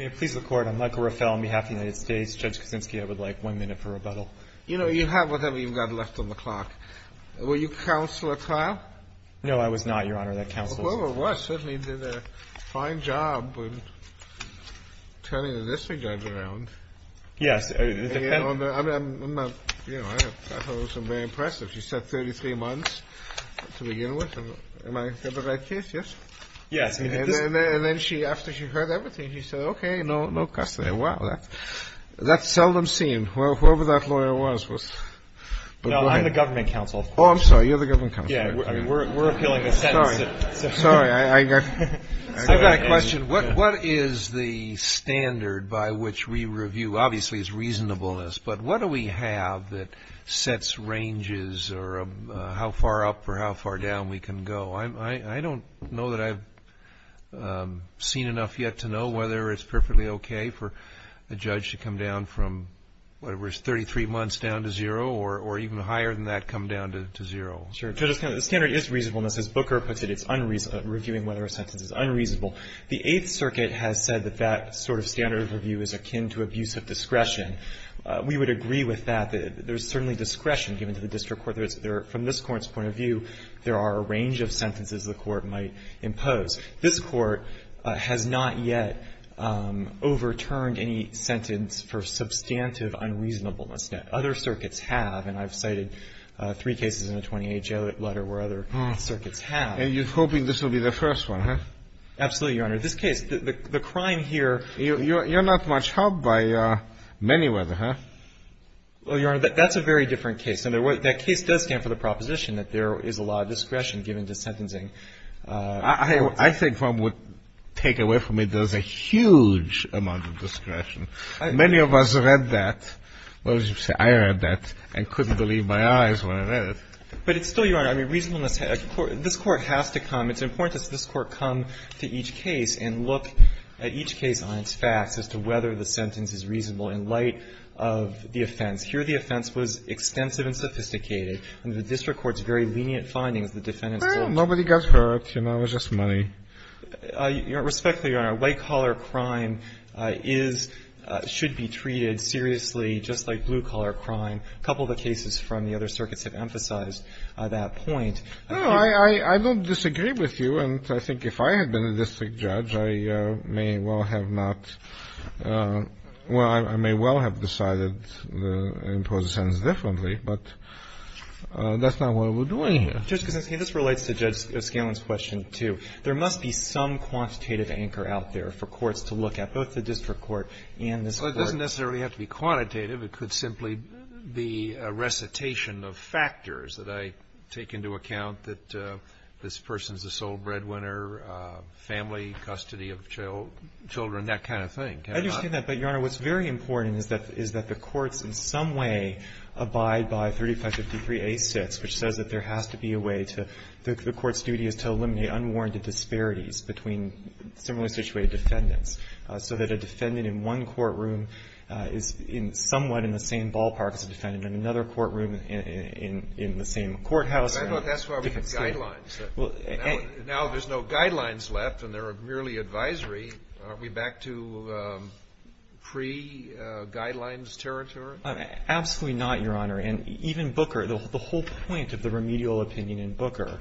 On behalf of the United States, Judge Kuczynski, I would like one minute for rebuttal. You know, you have whatever you've got left on the clock. Were you counsel at trial? No, I was not, Your Honor. That counsels. Well, it was. Certainly did a fine job turning the district judge around. Yes. You know, I thought it was very impressive. She said 33 months to begin with. Am I in the right case? Yes? Yes. And then after she heard everything, she said, okay, no custody. Wow, that's seldom seen. Whoever that lawyer was was... No, I'm the government counsel. Oh, I'm sorry. You're the government counsel. Yes, we're appealing the sentence. Sorry, I got... I've got a question. What is the standard by which we review? Obviously, it's reasonableness, but what do we have that sets ranges or how far up or how far down we can go? I don't know that I've seen enough yet to know whether it's perfectly okay for a judge to come down from, whatever it is, 33 months down to zero or even higher than that come down to zero. Sure. The standard is reasonableness. As Booker puts it, it's reviewing whether a sentence is unreasonable. The Eighth Circuit has said that that sort of standard of review is akin to abuse of discretion. We would agree with that. There's certainly discretion given to the district court. From this Court's point of view, there are a range of sentences the Court might impose. This Court has not yet overturned any sentence for substantive unreasonableness. Other circuits have, and I've cited three cases in a 28-J letter where other circuits have. And you're hoping this will be the first one, huh? Absolutely, Your Honor. This case, the crime here... You're not much helped by many, whether, huh? Well, Your Honor, that's a very different case. And that case does stand for the proposition that there is a law of discretion given to sentencing. I think one would take away from it there's a huge amount of discretion. Many of us read that. Well, as you say, I read that and couldn't believe my eyes when I read it. But it's still, Your Honor, I mean, reasonableness. This Court has to come. It's important that this Court come to each case and look at each case on its facts as to whether the sentence is reasonable in light of the offense. Here, the offense was extensive and sophisticated. Under the district court's very lenient findings, the defendants... Well, nobody got hurt. You know, it was just money. Respectfully, Your Honor, white-collar crime is, should be treated seriously just like blue-collar crime. A couple of the cases from the other circuits have emphasized that point. I don't disagree with you. And I think if I had been a district judge, I may well have not – well, I may well have decided to impose the sentence differently, but that's not what we're doing here. Justice Kagan, this relates to Judge Scalen's question, too. There must be some quantitative anchor out there for courts to look at, both the district court and this Court. Well, it doesn't necessarily have to be quantitative. It could simply be a recitation of factors that I take into account that this person is a sole breadwinner, family, custody of children, that kind of thing. I understand that. But, Your Honor, what's very important is that the courts in some way abide by 3553A6, which says that there has to be a way to – the court's duty is to eliminate unwarranted disparities between similarly situated defendants, so that a defendant in one courtroom is somewhat in the same ballpark as a defendant in another courtroom in the same courthouse. I thought that's where we had guidelines. Now there's no guidelines left and there are merely advisory. Are we back to pre-guidelines territory? Absolutely not, Your Honor. And even Booker, the whole point of the remedial opinion in Booker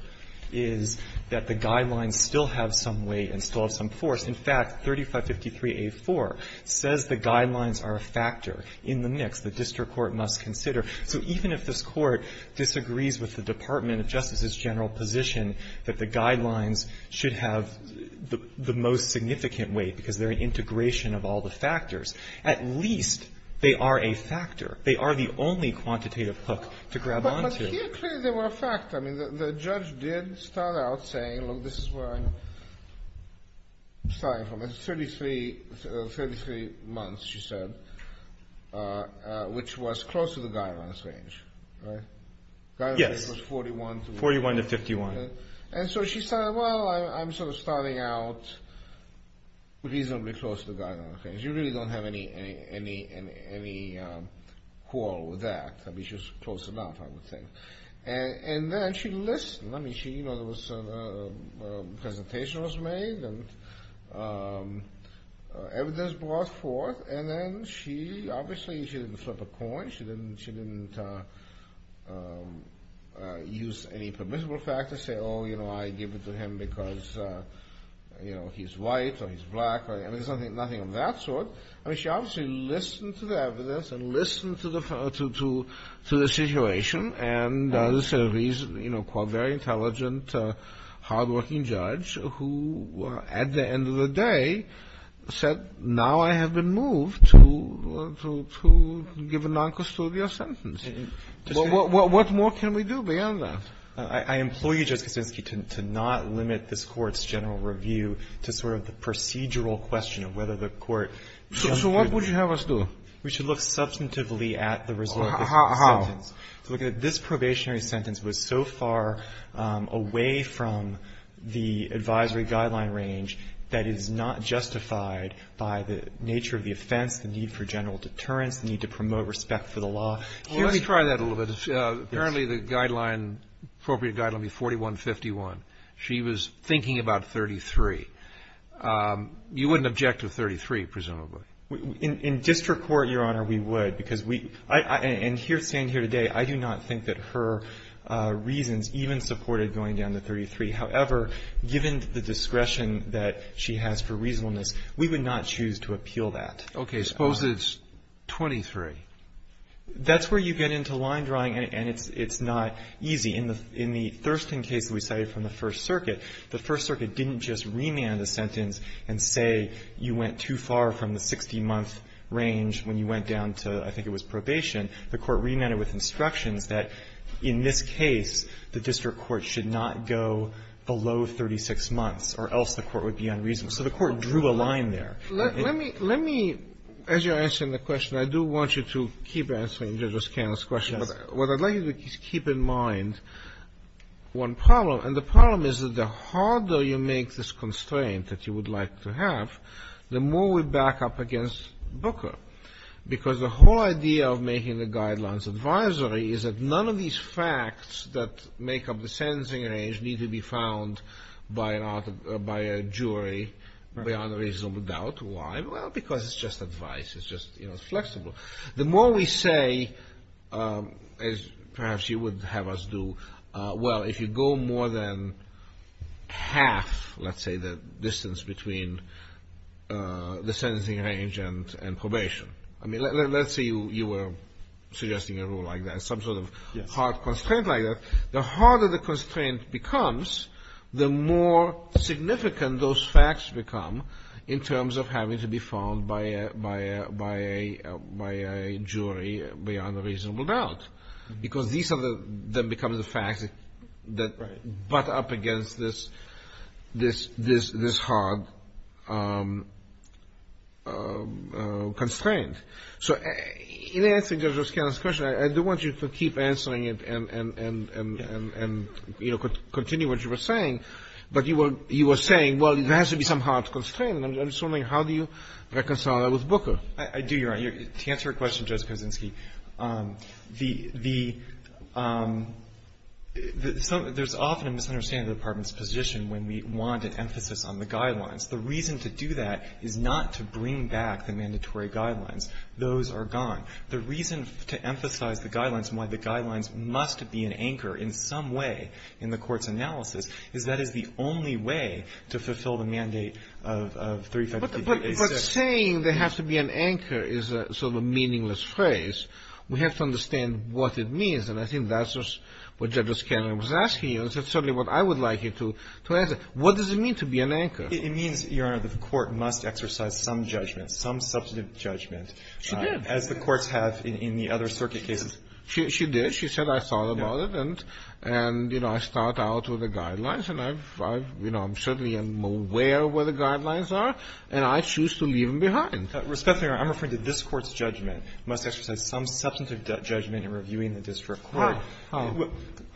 is that the guidelines still have some weight and still have some force. In fact, 3553A4 says the guidelines are a factor in the mix the district court must consider. So even if this Court disagrees with the Department of Justice's general position that the guidelines should have the most significant weight because they're an integration of all the factors, at least they are a factor. They are the only quantitative hook to grab onto. But here, clearly, they were a factor. I mean, the judge did start out saying, look, this is where I'm starting from. It's 33 months, she said, which was close to the guidelines range, right? Yes. The guidelines range was 41 to 51. And so she said, well, I'm sort of starting out reasonably close to the guidelines range. You really don't have any quarrel with that. I mean, she was close enough, I would think. And then she listened. I mean, you know, a presentation was made and evidence brought forth, and then she, obviously, she didn't flip a coin. She didn't use any permissible factors, say, oh, you know, I give it to him because, you know, he's white or he's black. I mean, there's nothing of that sort. I mean, she obviously listened to the evidence and listened to the situation. And there's a reason, you know, a very intelligent, hardworking judge who, at the end of the day, said, now I have been moved to give a noncustodial sentence. What more can we do beyond that? I implore you, Justice Kaczynski, to not limit this Court's general review to sort of the procedural question of whether the Court can't do that. So what would you have us do? We should look substantively at the result of the sentence. How? This probationary sentence was so far away from the advisory guideline range that it is not justified by the nature of the offense, the need for general deterrence, the need to promote respect for the law. Well, let me try that a little bit. Apparently, the guideline, appropriate guideline would be 4151. She was thinking about 33. You wouldn't object to 33, presumably. In district court, Your Honor, we would because we – and here, standing here today, I do not think that her reasons even supported going down to 33. However, given the discretion that she has for reasonableness, we would not choose to appeal that. Okay. Suppose it's 23. That's where you get into line drawing, and it's not easy. In the Thurston case that we cited from the First Circuit, the First Circuit didn't just remand the sentence and say you went too far from the 60-month range when you went down to, I think it was probation. The court remanded with instructions that in this case, the district court should not go below 36 months or else the court would be unreasonable. So the court drew a line there. Let me – let me, as you're answering the question, I do want you to keep answering Judge O'Scanlon's question. Yes. But what I'd like you to keep in mind, one problem, and the problem is that the harder you make this constraint that you would like to have, the more we back up against Booker. Because the whole idea of making the guidelines advisory is that none of these facts that make up the sentencing range need to be found by a jury beyond a reasonable doubt. Why? Well, because it's just advice. It's just, you know, it's flexible. The more we say, as perhaps you would have us do, well, if you go more than half, let's say you were suggesting a rule like that, some sort of hard constraint like that, the harder the constraint becomes, the more significant those facts become in terms of having to be found by a jury beyond a reasonable doubt. Because these are the – that becomes the facts that butt up against this hard constraint. So in answering Judge O'Scanlon's question, I do want you to keep answering it and, you know, continue what you were saying. But you were saying, well, there has to be some hard constraint, and I'm just wondering how do you reconcile that with Booker? I do, Your Honor. To answer your question, Judge Kozinski, the – there's often a misunderstanding of the Department's position when we want an emphasis on the guidelines. The reason to do that is not to bring back the mandatory guidelines. Those are gone. The reason to emphasize the guidelines and why the guidelines must be an anchor in some way in the Court's analysis is that is the only way to fulfill the mandate of 352A6. Saying there has to be an anchor is sort of a meaningless phrase. We have to understand what it means, and I think that's what Judge O'Scanlon was asking you. That's certainly what I would like you to answer. What does it mean to be an anchor? It means, Your Honor, the Court must exercise some judgment, some substantive judgment. She did. As the courts have in the other circuit cases. She did. She said, I thought about it, and, you know, I start out with the guidelines, and I've – you know, I'm certainly aware of where the guidelines are, and I choose to leave them behind. Respectfully, Your Honor, I'm referring to this Court's judgment. It must exercise some substantive judgment in reviewing the district court. How?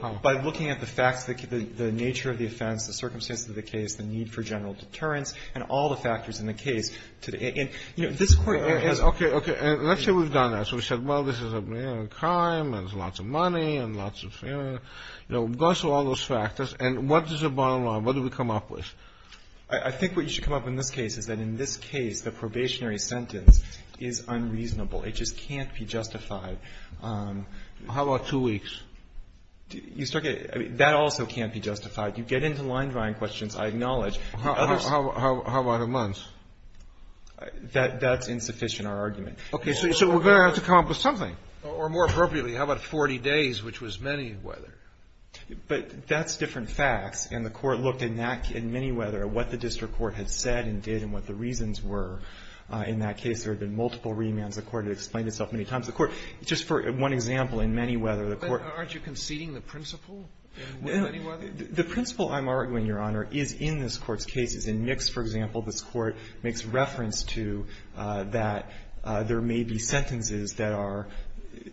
How? By looking at the facts, the nature of the offense, the circumstances of the case, the need for general deterrence, and all the factors in the case. And, you know, this Court has – Okay. Okay. And let's say we've done that. So we said, well, this is a crime, and there's lots of money, and lots of – you know, we've gone through all those factors, and what is the bottom line? What do we come up with? I think what you should come up in this case is that in this case, the probationary sentence is unreasonable. It just can't be justified. How about two weeks? You start getting – that also can't be justified. You get into line-drawing questions, I acknowledge. How about a month? That's insufficient, our argument. Okay. So we're going to have to come up with something. Or more appropriately, how about 40 days, which was many-whether? But that's different facts. And the Court looked in that – in many-whether at what the district court had said and did and what the reasons were. In that case, there had been multiple remands. The Court had explained itself many times. The Court – just for one example, in many-whether, the Court – Aren't you conceding the principle in many-whether? No. The principle, I'm arguing, Your Honor, is in this Court's cases. In Mix, for example, this Court makes reference to that there may be sentences that are –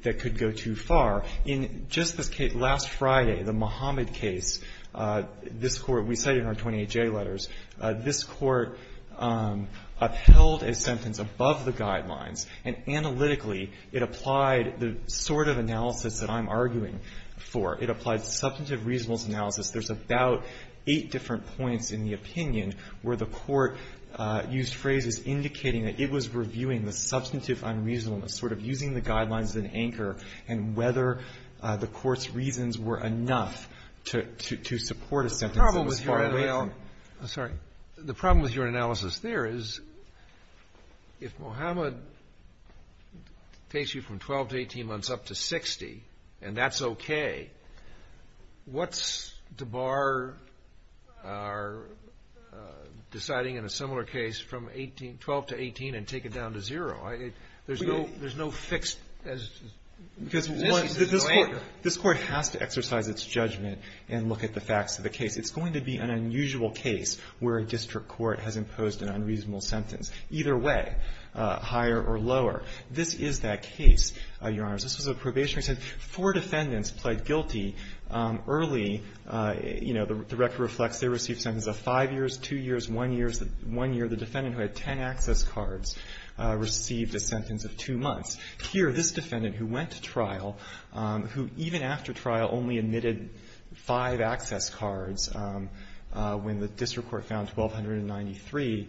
that could go too far. In just this case, last Friday, the Muhammad case, this Court – we cite it in our 28J letters. This Court upheld a sentence above the guidelines, and analytically, it applied the sort of analysis that I'm arguing for. It applied substantive reasonableness analysis. There's about eight different points in the opinion where the Court used phrases indicating that it was reviewing the substantive unreasonableness, sort of using the guidelines as an anchor, and whether the Court's reasons were enough to support a sentence that was far away from it. The problem with your analysis there is if Muhammad takes you from 12 to 18 months up to 60 and that's okay, what's to bar our deciding in a similar case from 12 to 18 and take it down to zero? There's no – there's no fixed – Because this Court has to exercise its judgment and look at the facts of the case. It's going to be an unusual case where a district court has imposed an unreasonable sentence, either way, higher or lower. This is that case, Your Honors. This was a probationary sentence. Four defendants pled guilty early. You know, the record reflects they received sentences of five years, two years, one year the defendant who had ten access cards received a sentence of two months. Here, this defendant who went to trial, who even after trial only admitted five access cards when the district court found 1,293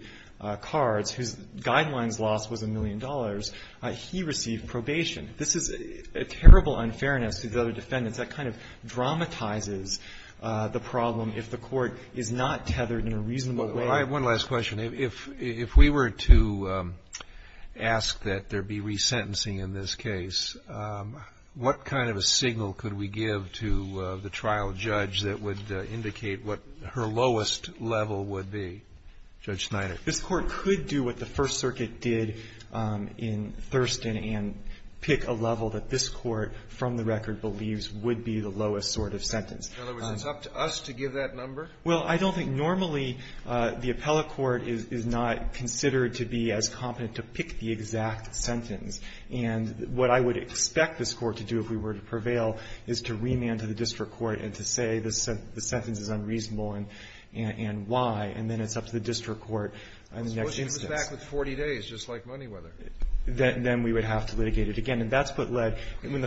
cards, whose guidelines loss was $1 million, he received probation. This is a terrible unfairness to the other defendants. That kind of dramatizes the problem if the court is not tethered in a reasonable way. Well, I have one last question. If we were to ask that there be resentencing in this case, what kind of a signal could we give to the trial judge that would indicate what her lowest level would be, Judge Snyder? This Court could do what the First Circuit did in Thurston and pick a level that this Court from the record believes would be the lowest sort of sentence. In other words, it's up to us to give that number? Well, I don't think normally the appellate court is not considered to be as competent to pick the exact sentence. And what I would expect this Court to do if we were to prevail is to remand to the district court and to say the sentence is unreasonable and why, and then it's up to the district court on the next instance. It was back with 40 days, just like Moneyweather. Then we would have to litigate it again. And that's what led the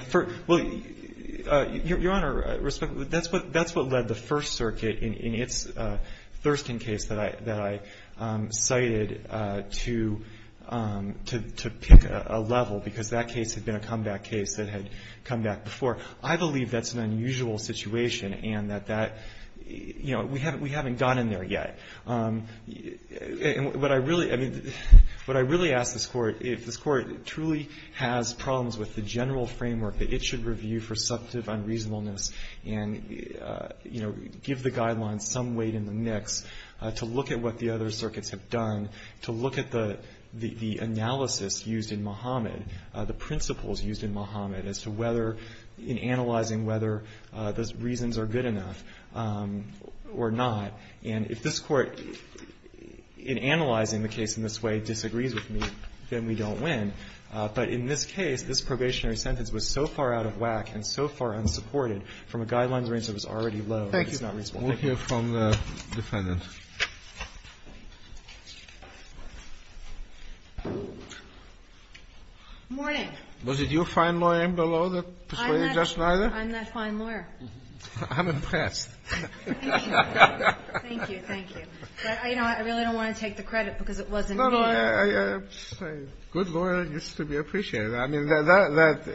First Circuit in its Thurston case that I cited to pick a level, because that case had been a comeback case that had come back before. I believe that's an unusual situation and that that, you know, we haven't gone in there And what I really, I mean, what I really ask this Court, if this Court truly has problems with the general framework that it should review for substantive unreasonableness and, you know, give the guidelines some weight in the mix to look at what the other circuits have done, to look at the analysis used in Muhammad, the principles used in Muhammad as to whether, in analyzing whether those reasons are good enough or not. And if this Court, in analyzing the case in this way, disagrees with me, then we don't win. But in this case, this probationary sentence was so far out of whack and so far unsupported from a guidelines range that was already low. It's not reasonable. We'll hear from the Defendant. Morning. Was it your fine lawyer below that persuaded Judge Schneider? I'm that fine lawyer. I'm impressed. Thank you. Thank you. But, you know, I really don't want to take the credit because it wasn't me. No, no. A good lawyer needs to be appreciated. I mean, that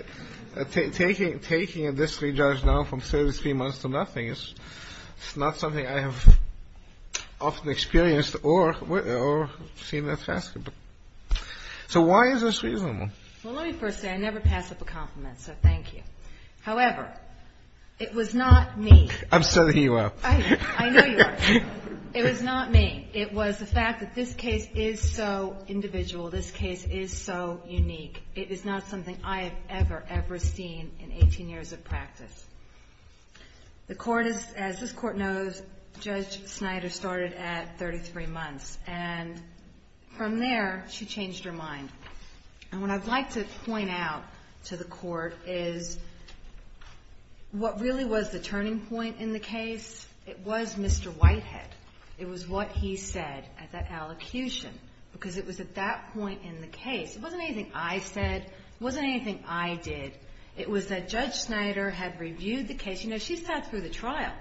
taking a district judge now from service three months to nothing is not something I have often experienced or seen as fascinating. So why is this reasonable? Well, let me first say I never pass up a compliment, so thank you. However, it was not me. I'm setting you up. I know you are. It was not me. It was the fact that this case is so individual. This case is so unique. It is not something I have ever, ever seen in 18 years of practice. The court is, as this court knows, Judge Schneider started at 33 months, and from there she changed her mind. And what I'd like to point out to the court is what really was the turning point in the case, it was Mr. Whitehead. It was what he said at that allocution because it was at that point in the case. It wasn't anything I did. It was that Judge Schneider had reviewed the case. You know, she sat through the trial.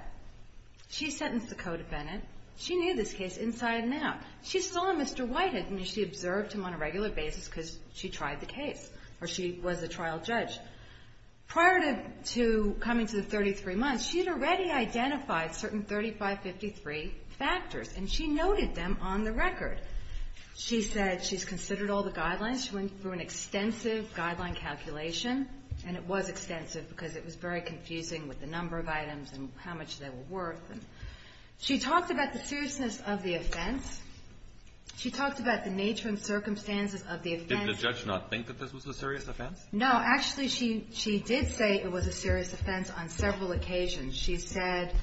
She sentenced the co-defendant. She knew this case inside and out. She saw Mr. Whitehead. I mean, she observed him on a regular basis because she tried the case, or she was a trial judge. Prior to coming to the 33 months, she had already identified certain 3553 factors, and she noted them on the record. She said she's considered all the guidelines. She went through an extensive guideline calculation, and it was extensive because it was very confusing with the number of items and how much they were worth. She talked about the seriousness of the offense. She talked about the nature and circumstances of the offense. Kennedy. Did the judge not think that this was a serious offense? No. Actually, she did say it was a serious offense on several occasions. She said it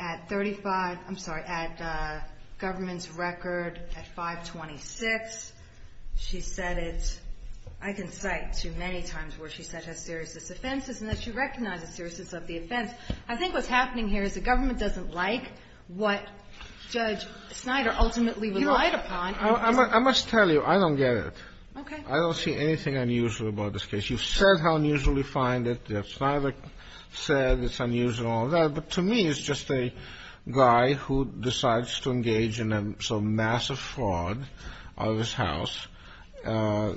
at 35 — I'm sorry, at government's record at 526. She said it, I can cite, too many times where she said how serious this offense is, and that she recognized the seriousness of the offense. I think what's happening here is the government doesn't like what Judge Snyder ultimately relied upon. I must tell you, I don't get it. Okay. I don't see anything unusual about this case. You said how unusual you find it. Snyder said it's unusual and all that. But to me, it's just a guy who decides to engage in some massive fraud out of his house. I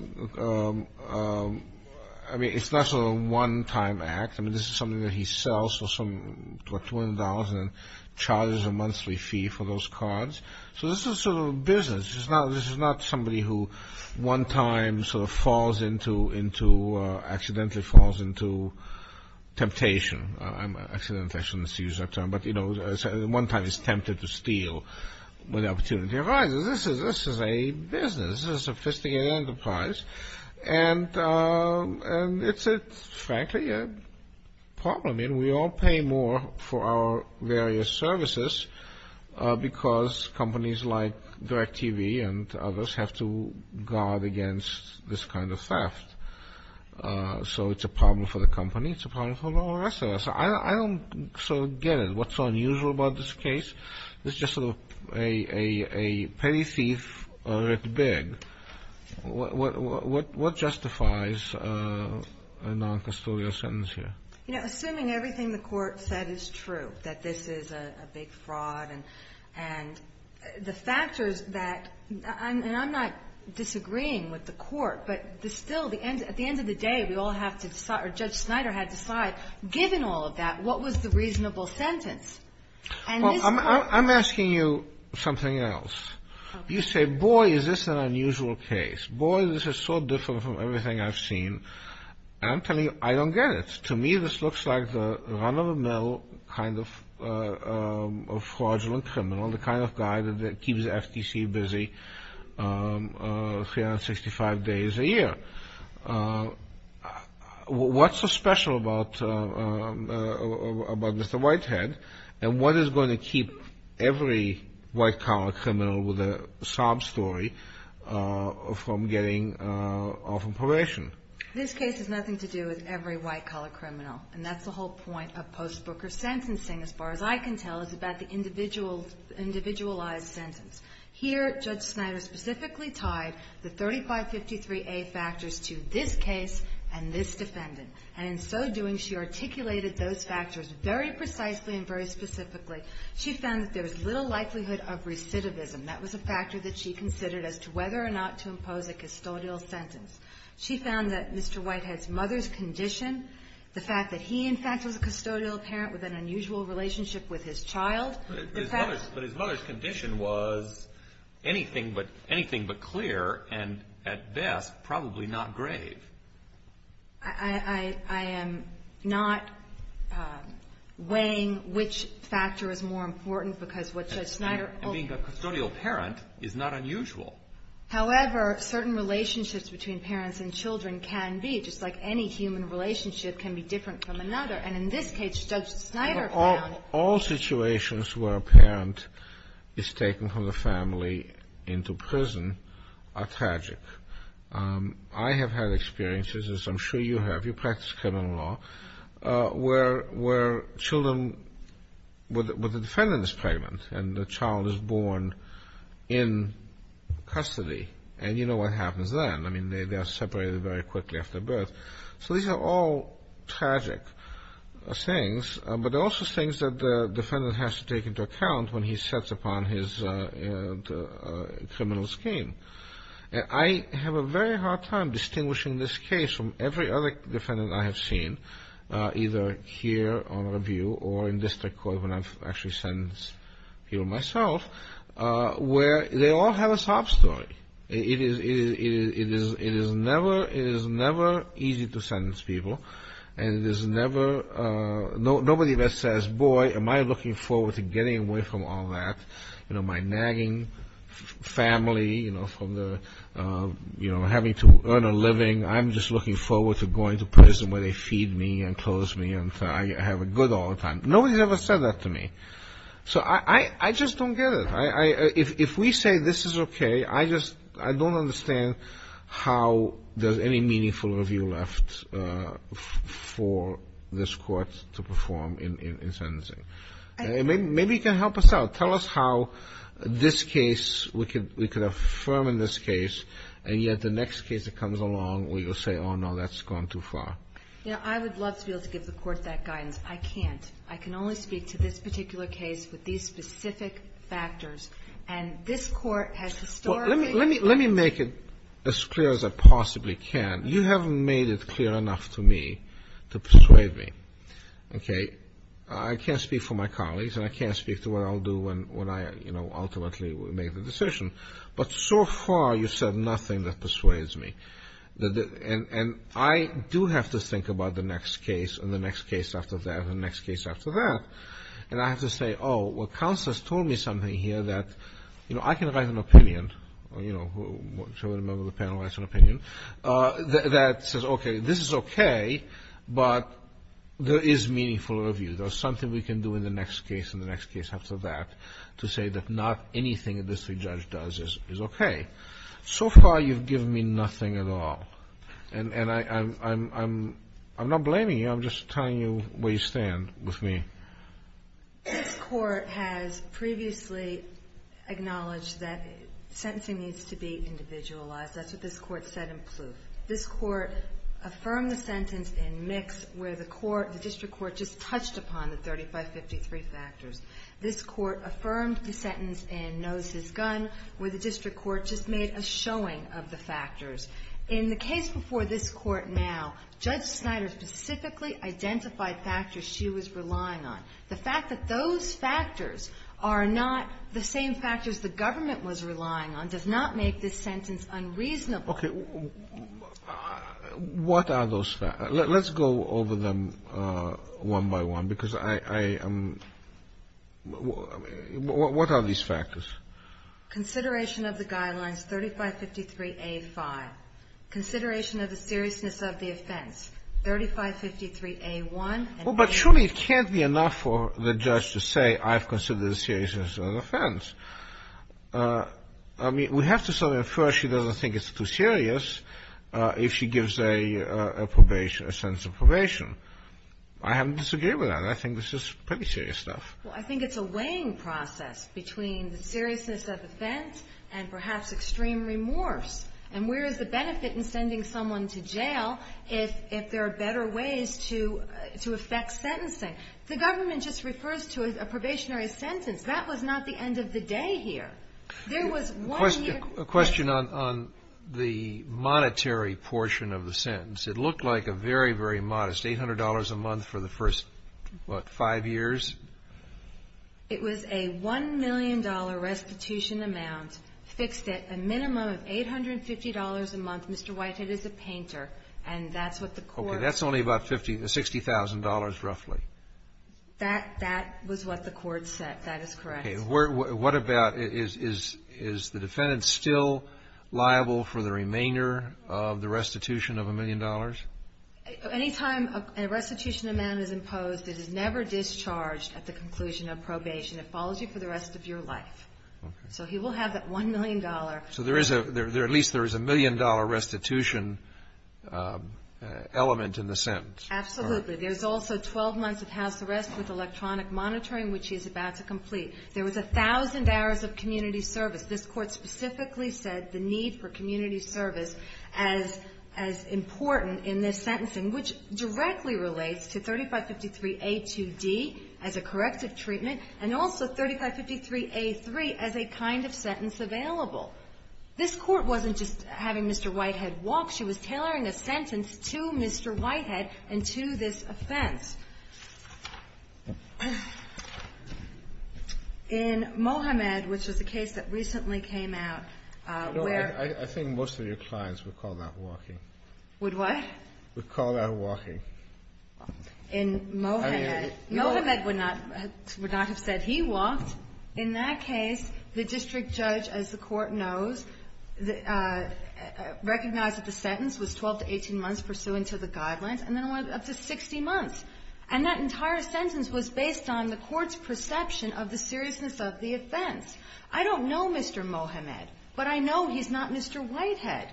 mean, it's not sort of a one-time act. I mean, this is something that he sells for some, what, $200 and charges a monthly fee for those cards. So this is sort of a business. This is not somebody who one time sort of falls into — accidentally falls into temptation. I shouldn't use that term, but one time is tempted to steal when the opportunity arises. This is a business. This is a sophisticated enterprise. And it's, frankly, a problem. I mean, we all pay more for our various services because companies like DirecTV and others have to guard against this kind of theft. So it's a problem for the company. It's a problem for the rest of us. I don't sort of get it, what's so unusual about this case. This is just sort of a petty thief, a little bit big. What justifies a noncustodial sentence here? You know, assuming everything the Court said is true, that this is a big fraud, and the factors that — and I'm not disagreeing with the Court, but still, at the side, given all of that, what was the reasonable sentence? I'm asking you something else. You say, boy, is this an unusual case. Boy, this is so different from everything I've seen. And I'm telling you, I don't get it. To me, this looks like the run-of-the-mill kind of fraudulent criminal, the kind of guy that keeps FTC busy 365 days a year. What's so special about Mr. Whitehead? And what is going to keep every white-collar criminal with a sob story from getting off on probation? This case has nothing to do with every white-collar criminal. And that's the whole point of post-Brooker sentencing, as far as I can tell, is about the individualized sentence. Here, Judge Snyder specifically tied the 3553A factors to this case and this defendant. And in so doing, she articulated those factors very precisely and very specifically. She found that there was little likelihood of recidivism. That was a factor that she considered as to whether or not to impose a custodial sentence. She found that Mr. Whitehead's mother's condition, the fact that he, in fact, was a custodial parent with an unusual relationship with his child — But his mother's condition was anything but clear and, at best, probably not grave. I am not weighing which factor is more important because what Judge Snyder — And being a custodial parent is not unusual. However, certain relationships between parents and children can be, just like any human relationship can be different from another. And in this case, Judge Snyder found — All situations where a parent is taken from the family into prison are tragic. I have had experiences, as I'm sure you have — you practice criminal law — where children — where the defendant is pregnant and the child is born in custody. And you know what happens then. I mean, they are separated very quickly after birth. So these are all tragic things. But also things that the defendant has to take into account when he sets upon his criminal scheme. I have a very hard time distinguishing this case from every other defendant I have seen, either here on review or in district court when I've actually sentenced people myself, where they all have a sob story. It is never easy to sentence people. And it is never — nobody ever says, Boy, am I looking forward to getting away from all that. You know, my nagging family, you know, from the — you know, having to earn a living. I'm just looking forward to going to prison where they feed me and close me and I have a good old time. Nobody's ever said that to me. So I just don't get it. If we say this is okay, I just — I don't understand how there's any meaningful review left for this court to perform in sentencing. Maybe you can help us out. Tell us how this case — we could affirm in this case, and yet the next case that comes along where you'll say, oh, no, that's gone too far. You know, I would love to be able to give the court that guidance. I can't. I can only speak to this particular case with these specific factors. And this court has historically — Well, let me make it as clear as I possibly can. You haven't made it clear enough to me to persuade me. Okay? I can't speak for my colleagues, and I can't speak to what I'll do when I, you know, ultimately make the decision. But so far, you've said nothing that persuades me. And I do have to think about the next case and the next case after that and the next case after that. And I have to say, oh, well, counsel has told me something here that, you know, I can write an opinion, or, you know, whichever member of the panel writes an opinion, that says, okay, this is okay, but there is meaningful review. There's something we can do in the next case and the next case after that to say that not anything that this judge does is okay. So far, you've given me nothing at all. And I'm not blaming you. I'm just telling you where you stand with me. This court has previously acknowledged that sentencing needs to be individualized. That's what this court said in Plouffe. This court affirmed the sentence in Mix where the court, the district court, just touched upon the 3553 factors. This court affirmed the sentence in Knows His Gun where the district court just made a showing of the factors. In the case before this court now, Judge Snyder specifically identified factors she was relying on. The fact that those factors are not the same factors the government was relying on does not make this sentence unreasonable. Okay. What are those factors? Let's go over them one by one because I am, what are these factors? Consideration of the guidelines, 3553A5. Consideration of the seriousness of the offense, 3553A1. Well, but surely it can't be enough for the judge to say I've considered the seriousness of the offense. I mean, we have to say that first she doesn't think it's too serious if she gives a probation, a sentence of probation. I have to disagree with that. I think this is pretty serious stuff. Well, I think it's a weighing process between the seriousness of offense and perhaps extreme remorse. And where is the benefit in sending someone to jail if there are better ways to affect sentencing? The government just refers to a probationary sentence. That was not the end of the day here. There was one year. A question on the monetary portion of the sentence. It looked like a very, very modest $800 a month for the first, what, five years? It was a $1 million restitution amount fixed at a minimum of $850 a month. Mr. Whitehead is a painter and that's what the court. Okay. That's only about $60,000 roughly. That was what the court said. That is correct. What about, is the defendant still liable for the remainder of the restitution of $1 million? Any time a restitution amount is imposed, it is never discharged at the conclusion of probation. It follows you for the rest of your life. So he will have that $1 million. So at least there is a $1 million restitution element in the sentence. Absolutely. There's also 12 months of house arrest with electronic monitoring, which he's about to complete. There was 1,000 hours of community service. This Court specifically said the need for community service as important in this sentencing, which directly relates to 3553a2d as a corrective treatment and also 3553a3 as a kind of sentence available. This Court wasn't just having Mr. Whitehead walk. She was tailoring a sentence to Mr. Whitehead and to this offense. In Mohamed, which was a case that recently came out where ---- I think most of your clients would call that walking. Would what? Would call that walking. In Mohamed. Mohamed would not have said he walked. In that case, the district judge, as the Court knows, recognized that the sentence was 12 to 18 months pursuant to the guidelines, and then it went up to 60 months. And that entire sentence was based on the Court's perception of the seriousness of the offense. I don't know Mr. Mohamed, but I know he's not Mr. Whitehead.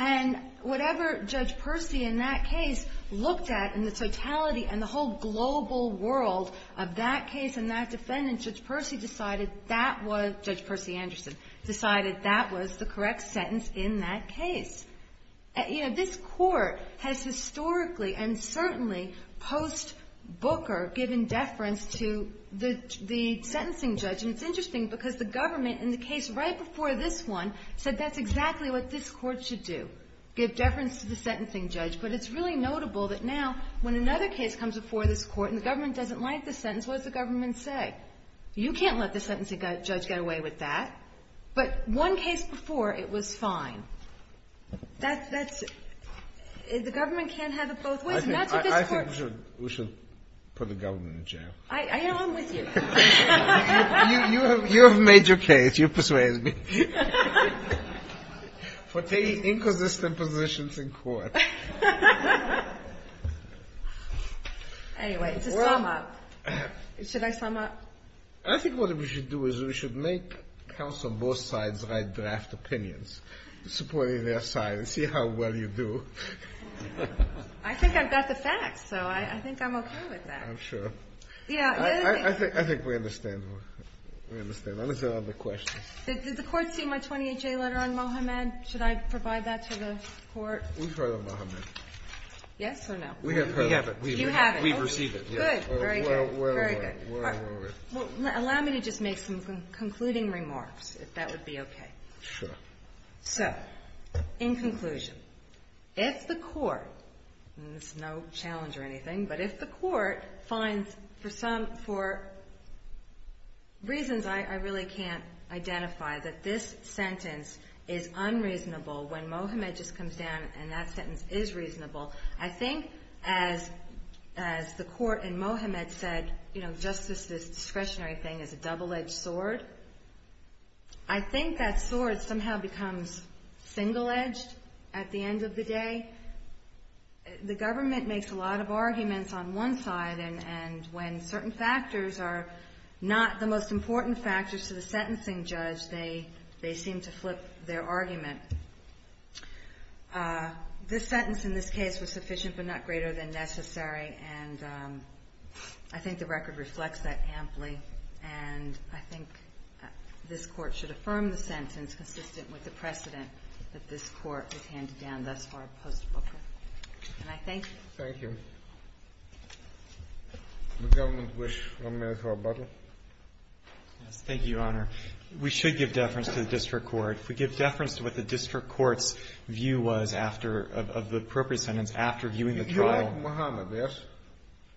And whatever Judge Percy in that case looked at in the totality and the whole global world of that case and that defendant, Judge Percy decided that was the correct sentence in that case. This Court has historically and certainly post-Booker given deference to the sentencing judge. And it's interesting because the government in the case right before this one said that's exactly what this Court should do, give deference to the sentencing judge. But it's really notable that now when another case comes before this Court and the government doesn't like the sentence, what does the government say? You can't let the sentencing judge get away with that. But one case before, it was fine. That's – the government can't have it both ways. And that's what this Court – I think we should put the government in jail. I'm with you. You have made your case. You've persuaded me. For taking inconsistent positions in court. Anyway, to sum up. Should I sum up? I think what we should do is we should make counsel both sides write draft opinions, supporting their side and see how well you do. I think I've got the facts, so I think I'm okay with that. I'm sure. Yeah. I think we understand. We understand. I understand all the questions. Did the Court see my 28-J letter on Mohammed? Should I provide that to the Court? We've heard of Mohammed. Yes or no? We have heard of him. You haven't. We've received it. Good. Very good. Very good. Well, allow me to just make some concluding remarks, if that would be okay. Sure. So, in conclusion, if the Court – and this is no challenge or anything – but if the Court finds, for reasons I really can't identify, that this sentence is unreasonable, when Mohammed just comes down and that sentence is reasonable, I think, as the Court in Mohammed said, just this discretionary thing as a double-edged sword, I think that sword somehow becomes single-edged at the end of the day. The government makes a lot of arguments on one side, and when certain factors are not the most important factors to the sentencing judge, they seem to flip their argument. This sentence in this case was sufficient but not greater than necessary, and I think the record reflects that amply, and I think this Court should affirm the sentence consistent with the precedent that this Court has handed down thus far post-Booker. Can I thank you? Thank you. Does the government wish one minute for rebuttal? Yes. Thank you, Your Honor. We should give deference to the district court. If we give deference to what the district court's view was after – of the appropriate sentence after viewing the trial – You like Mohammed, yes?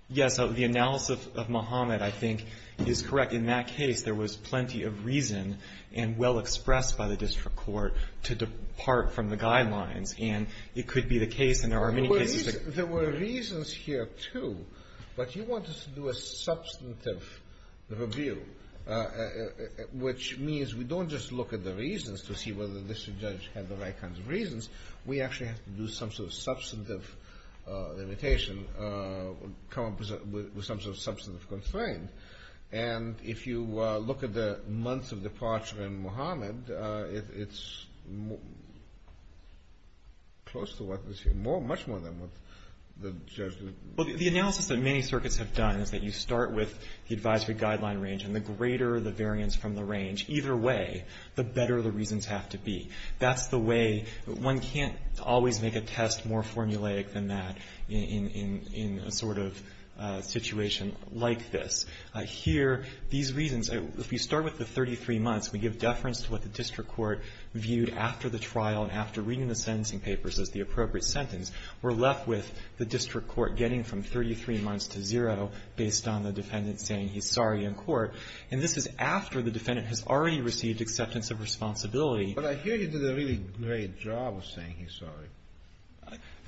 Yes. The analysis of Mohammed, I think, is correct. In that case, there was plenty of reason and well expressed by the district court to depart from the guidelines, and it could be the case, and there are many cases – There were reasons here, too, but you wanted to do a substantive review. Which means we don't just look at the reasons to see whether the district judge had the right kinds of reasons. We actually have to do some sort of substantive limitation with some sort of substantive constraint, and if you look at the months of departure in Mohammed, it's close to what was here, much more than what the judge did. Well, the analysis that many circuits have done is that you start with the advisory guideline range, and the greater the variance from the range, either way, the better the reasons have to be. That's the way – one can't always make a test more formulaic than that in a sort of situation like this. Here, these reasons – if you start with the 33 months, we give deference to what the district court viewed after the trial and after reading the sentencing papers as the appropriate sentence. We're left with the district court getting from 33 months to zero based on the And this is after the defendant has already received acceptance of responsibility. But I hear you did a really great job of saying he's sorry.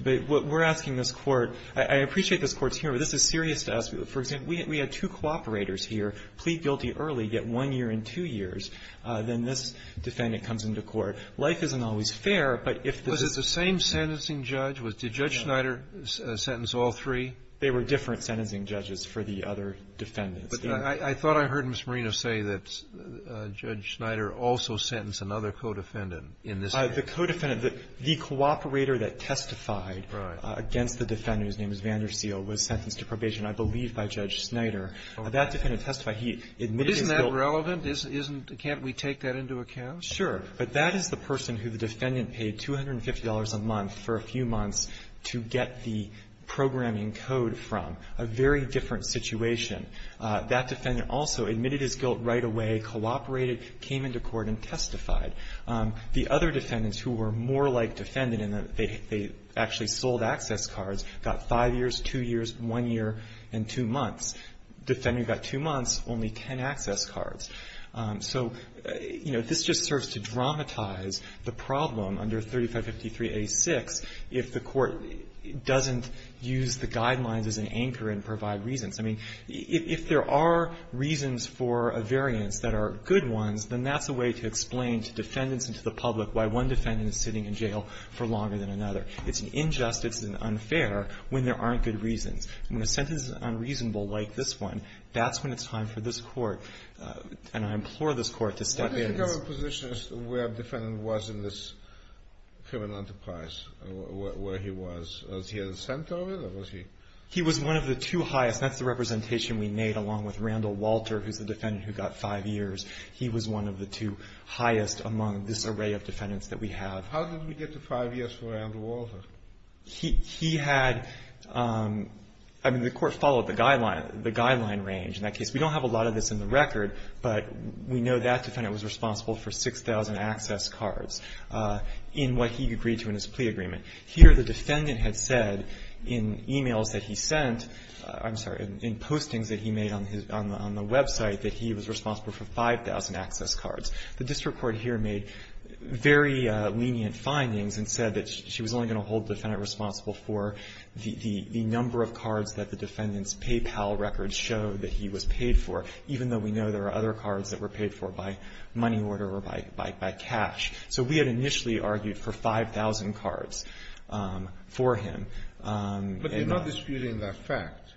We're asking this Court – I appreciate this Court's hearing, but this is serious to us. For example, we had two cooperators here plead guilty early, yet one year and two years, then this defendant comes into court. Life isn't always fair, but if the – Was it the same sentencing judge? Did Judge Schneider sentence all three? They were different sentencing judges for the other defendants. But I thought I heard Ms. Marino say that Judge Schneider also sentenced another co-defendant in this case. The co-defendant – the cooperator that testified against the defendant, whose name is Vanderseel, was sentenced to probation, I believe, by Judge Schneider. That defendant testified. Isn't that relevant? Isn't – can't we take that into account? Sure. But that is the person who the defendant paid $250 a month for a few months to get the programming code from, a very different situation. That defendant also admitted his guilt right away, cooperated, came into court, and testified. The other defendants who were more like defendant in that they actually sold access cards got five years, two years, one year, and two months. Defendant got two months, only ten access cards. So, you know, this just serves to dramatize the problem under 3553a6 if the Court doesn't use the guidelines as an anchor and provide reasons. I mean, if there are reasons for a variance that are good ones, then that's a way to explain to defendants and to the public why one defendant is sitting in jail for longer than another. It's an injustice and unfair when there aren't good reasons. When a sentence is unreasonable like this one, that's when it's time for this Court, and I implore this Court to step in. Do you have a position as to where a defendant was in this criminal enterprise, where he was? Was he at the center of it, or was he? He was one of the two highest. That's the representation we made along with Randall Walter, who's the defendant who got five years. He was one of the two highest among this array of defendants that we have. How did we get to five years for Randall Walter? He had, I mean, the Court followed the guideline range in that case. We don't have a lot of this in the record, but we know that defendant was responsible for 6,000 access cards in what he agreed to in his plea agreement. Here the defendant had said in e-mails that he sent, I'm sorry, in postings that he made on the website that he was responsible for 5,000 access cards. The district court here made very lenient findings and said that she was only going to hold the defendant responsible for the number of cards that the defendant's paid for, even though we know there are other cards that were paid for by money order or by cash. So we had initially argued for 5,000 cards for him. But you're not disputing that fact?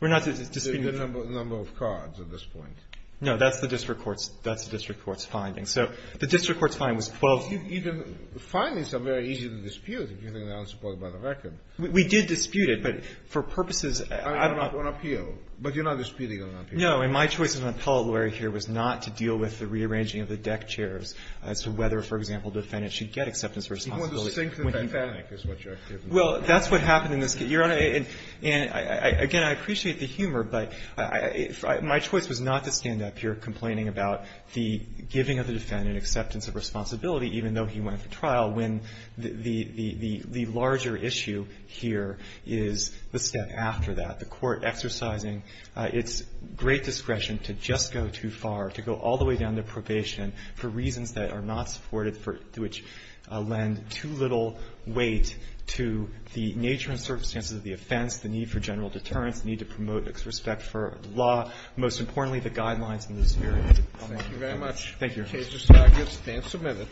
We're not disputing the fact. The number of cards at this point. No. That's the district court's finding. So the district court's finding was 12. Even findings are very easy to dispute, if you think they're unsupported by the record. We did dispute it, but for purposes I don't know. It's not on appeal. But you're not disputing it on appeal? No. And my choice as an appellate lawyer here was not to deal with the rearranging of the deck chairs as to whether, for example, the defendant should get acceptance of responsibility when he died. You want to sink the bank bank is what you're arguing. Well, that's what happened in this case. Your Honor, and again, I appreciate the humor, but my choice was not to stand up here complaining about the giving of the defendant acceptance of responsibility, even though he went for trial, when the larger issue here is the step after that. The court exercising its great discretion to just go too far, to go all the way down to probation for reasons that are not supported, which lend too little weight to the nature and circumstances of the offense, the need for general deterrence, the need to promote respect for law, most importantly, the guidelines in this hearing. Thank you very much. Thank you, Your Honor. Stand submitted.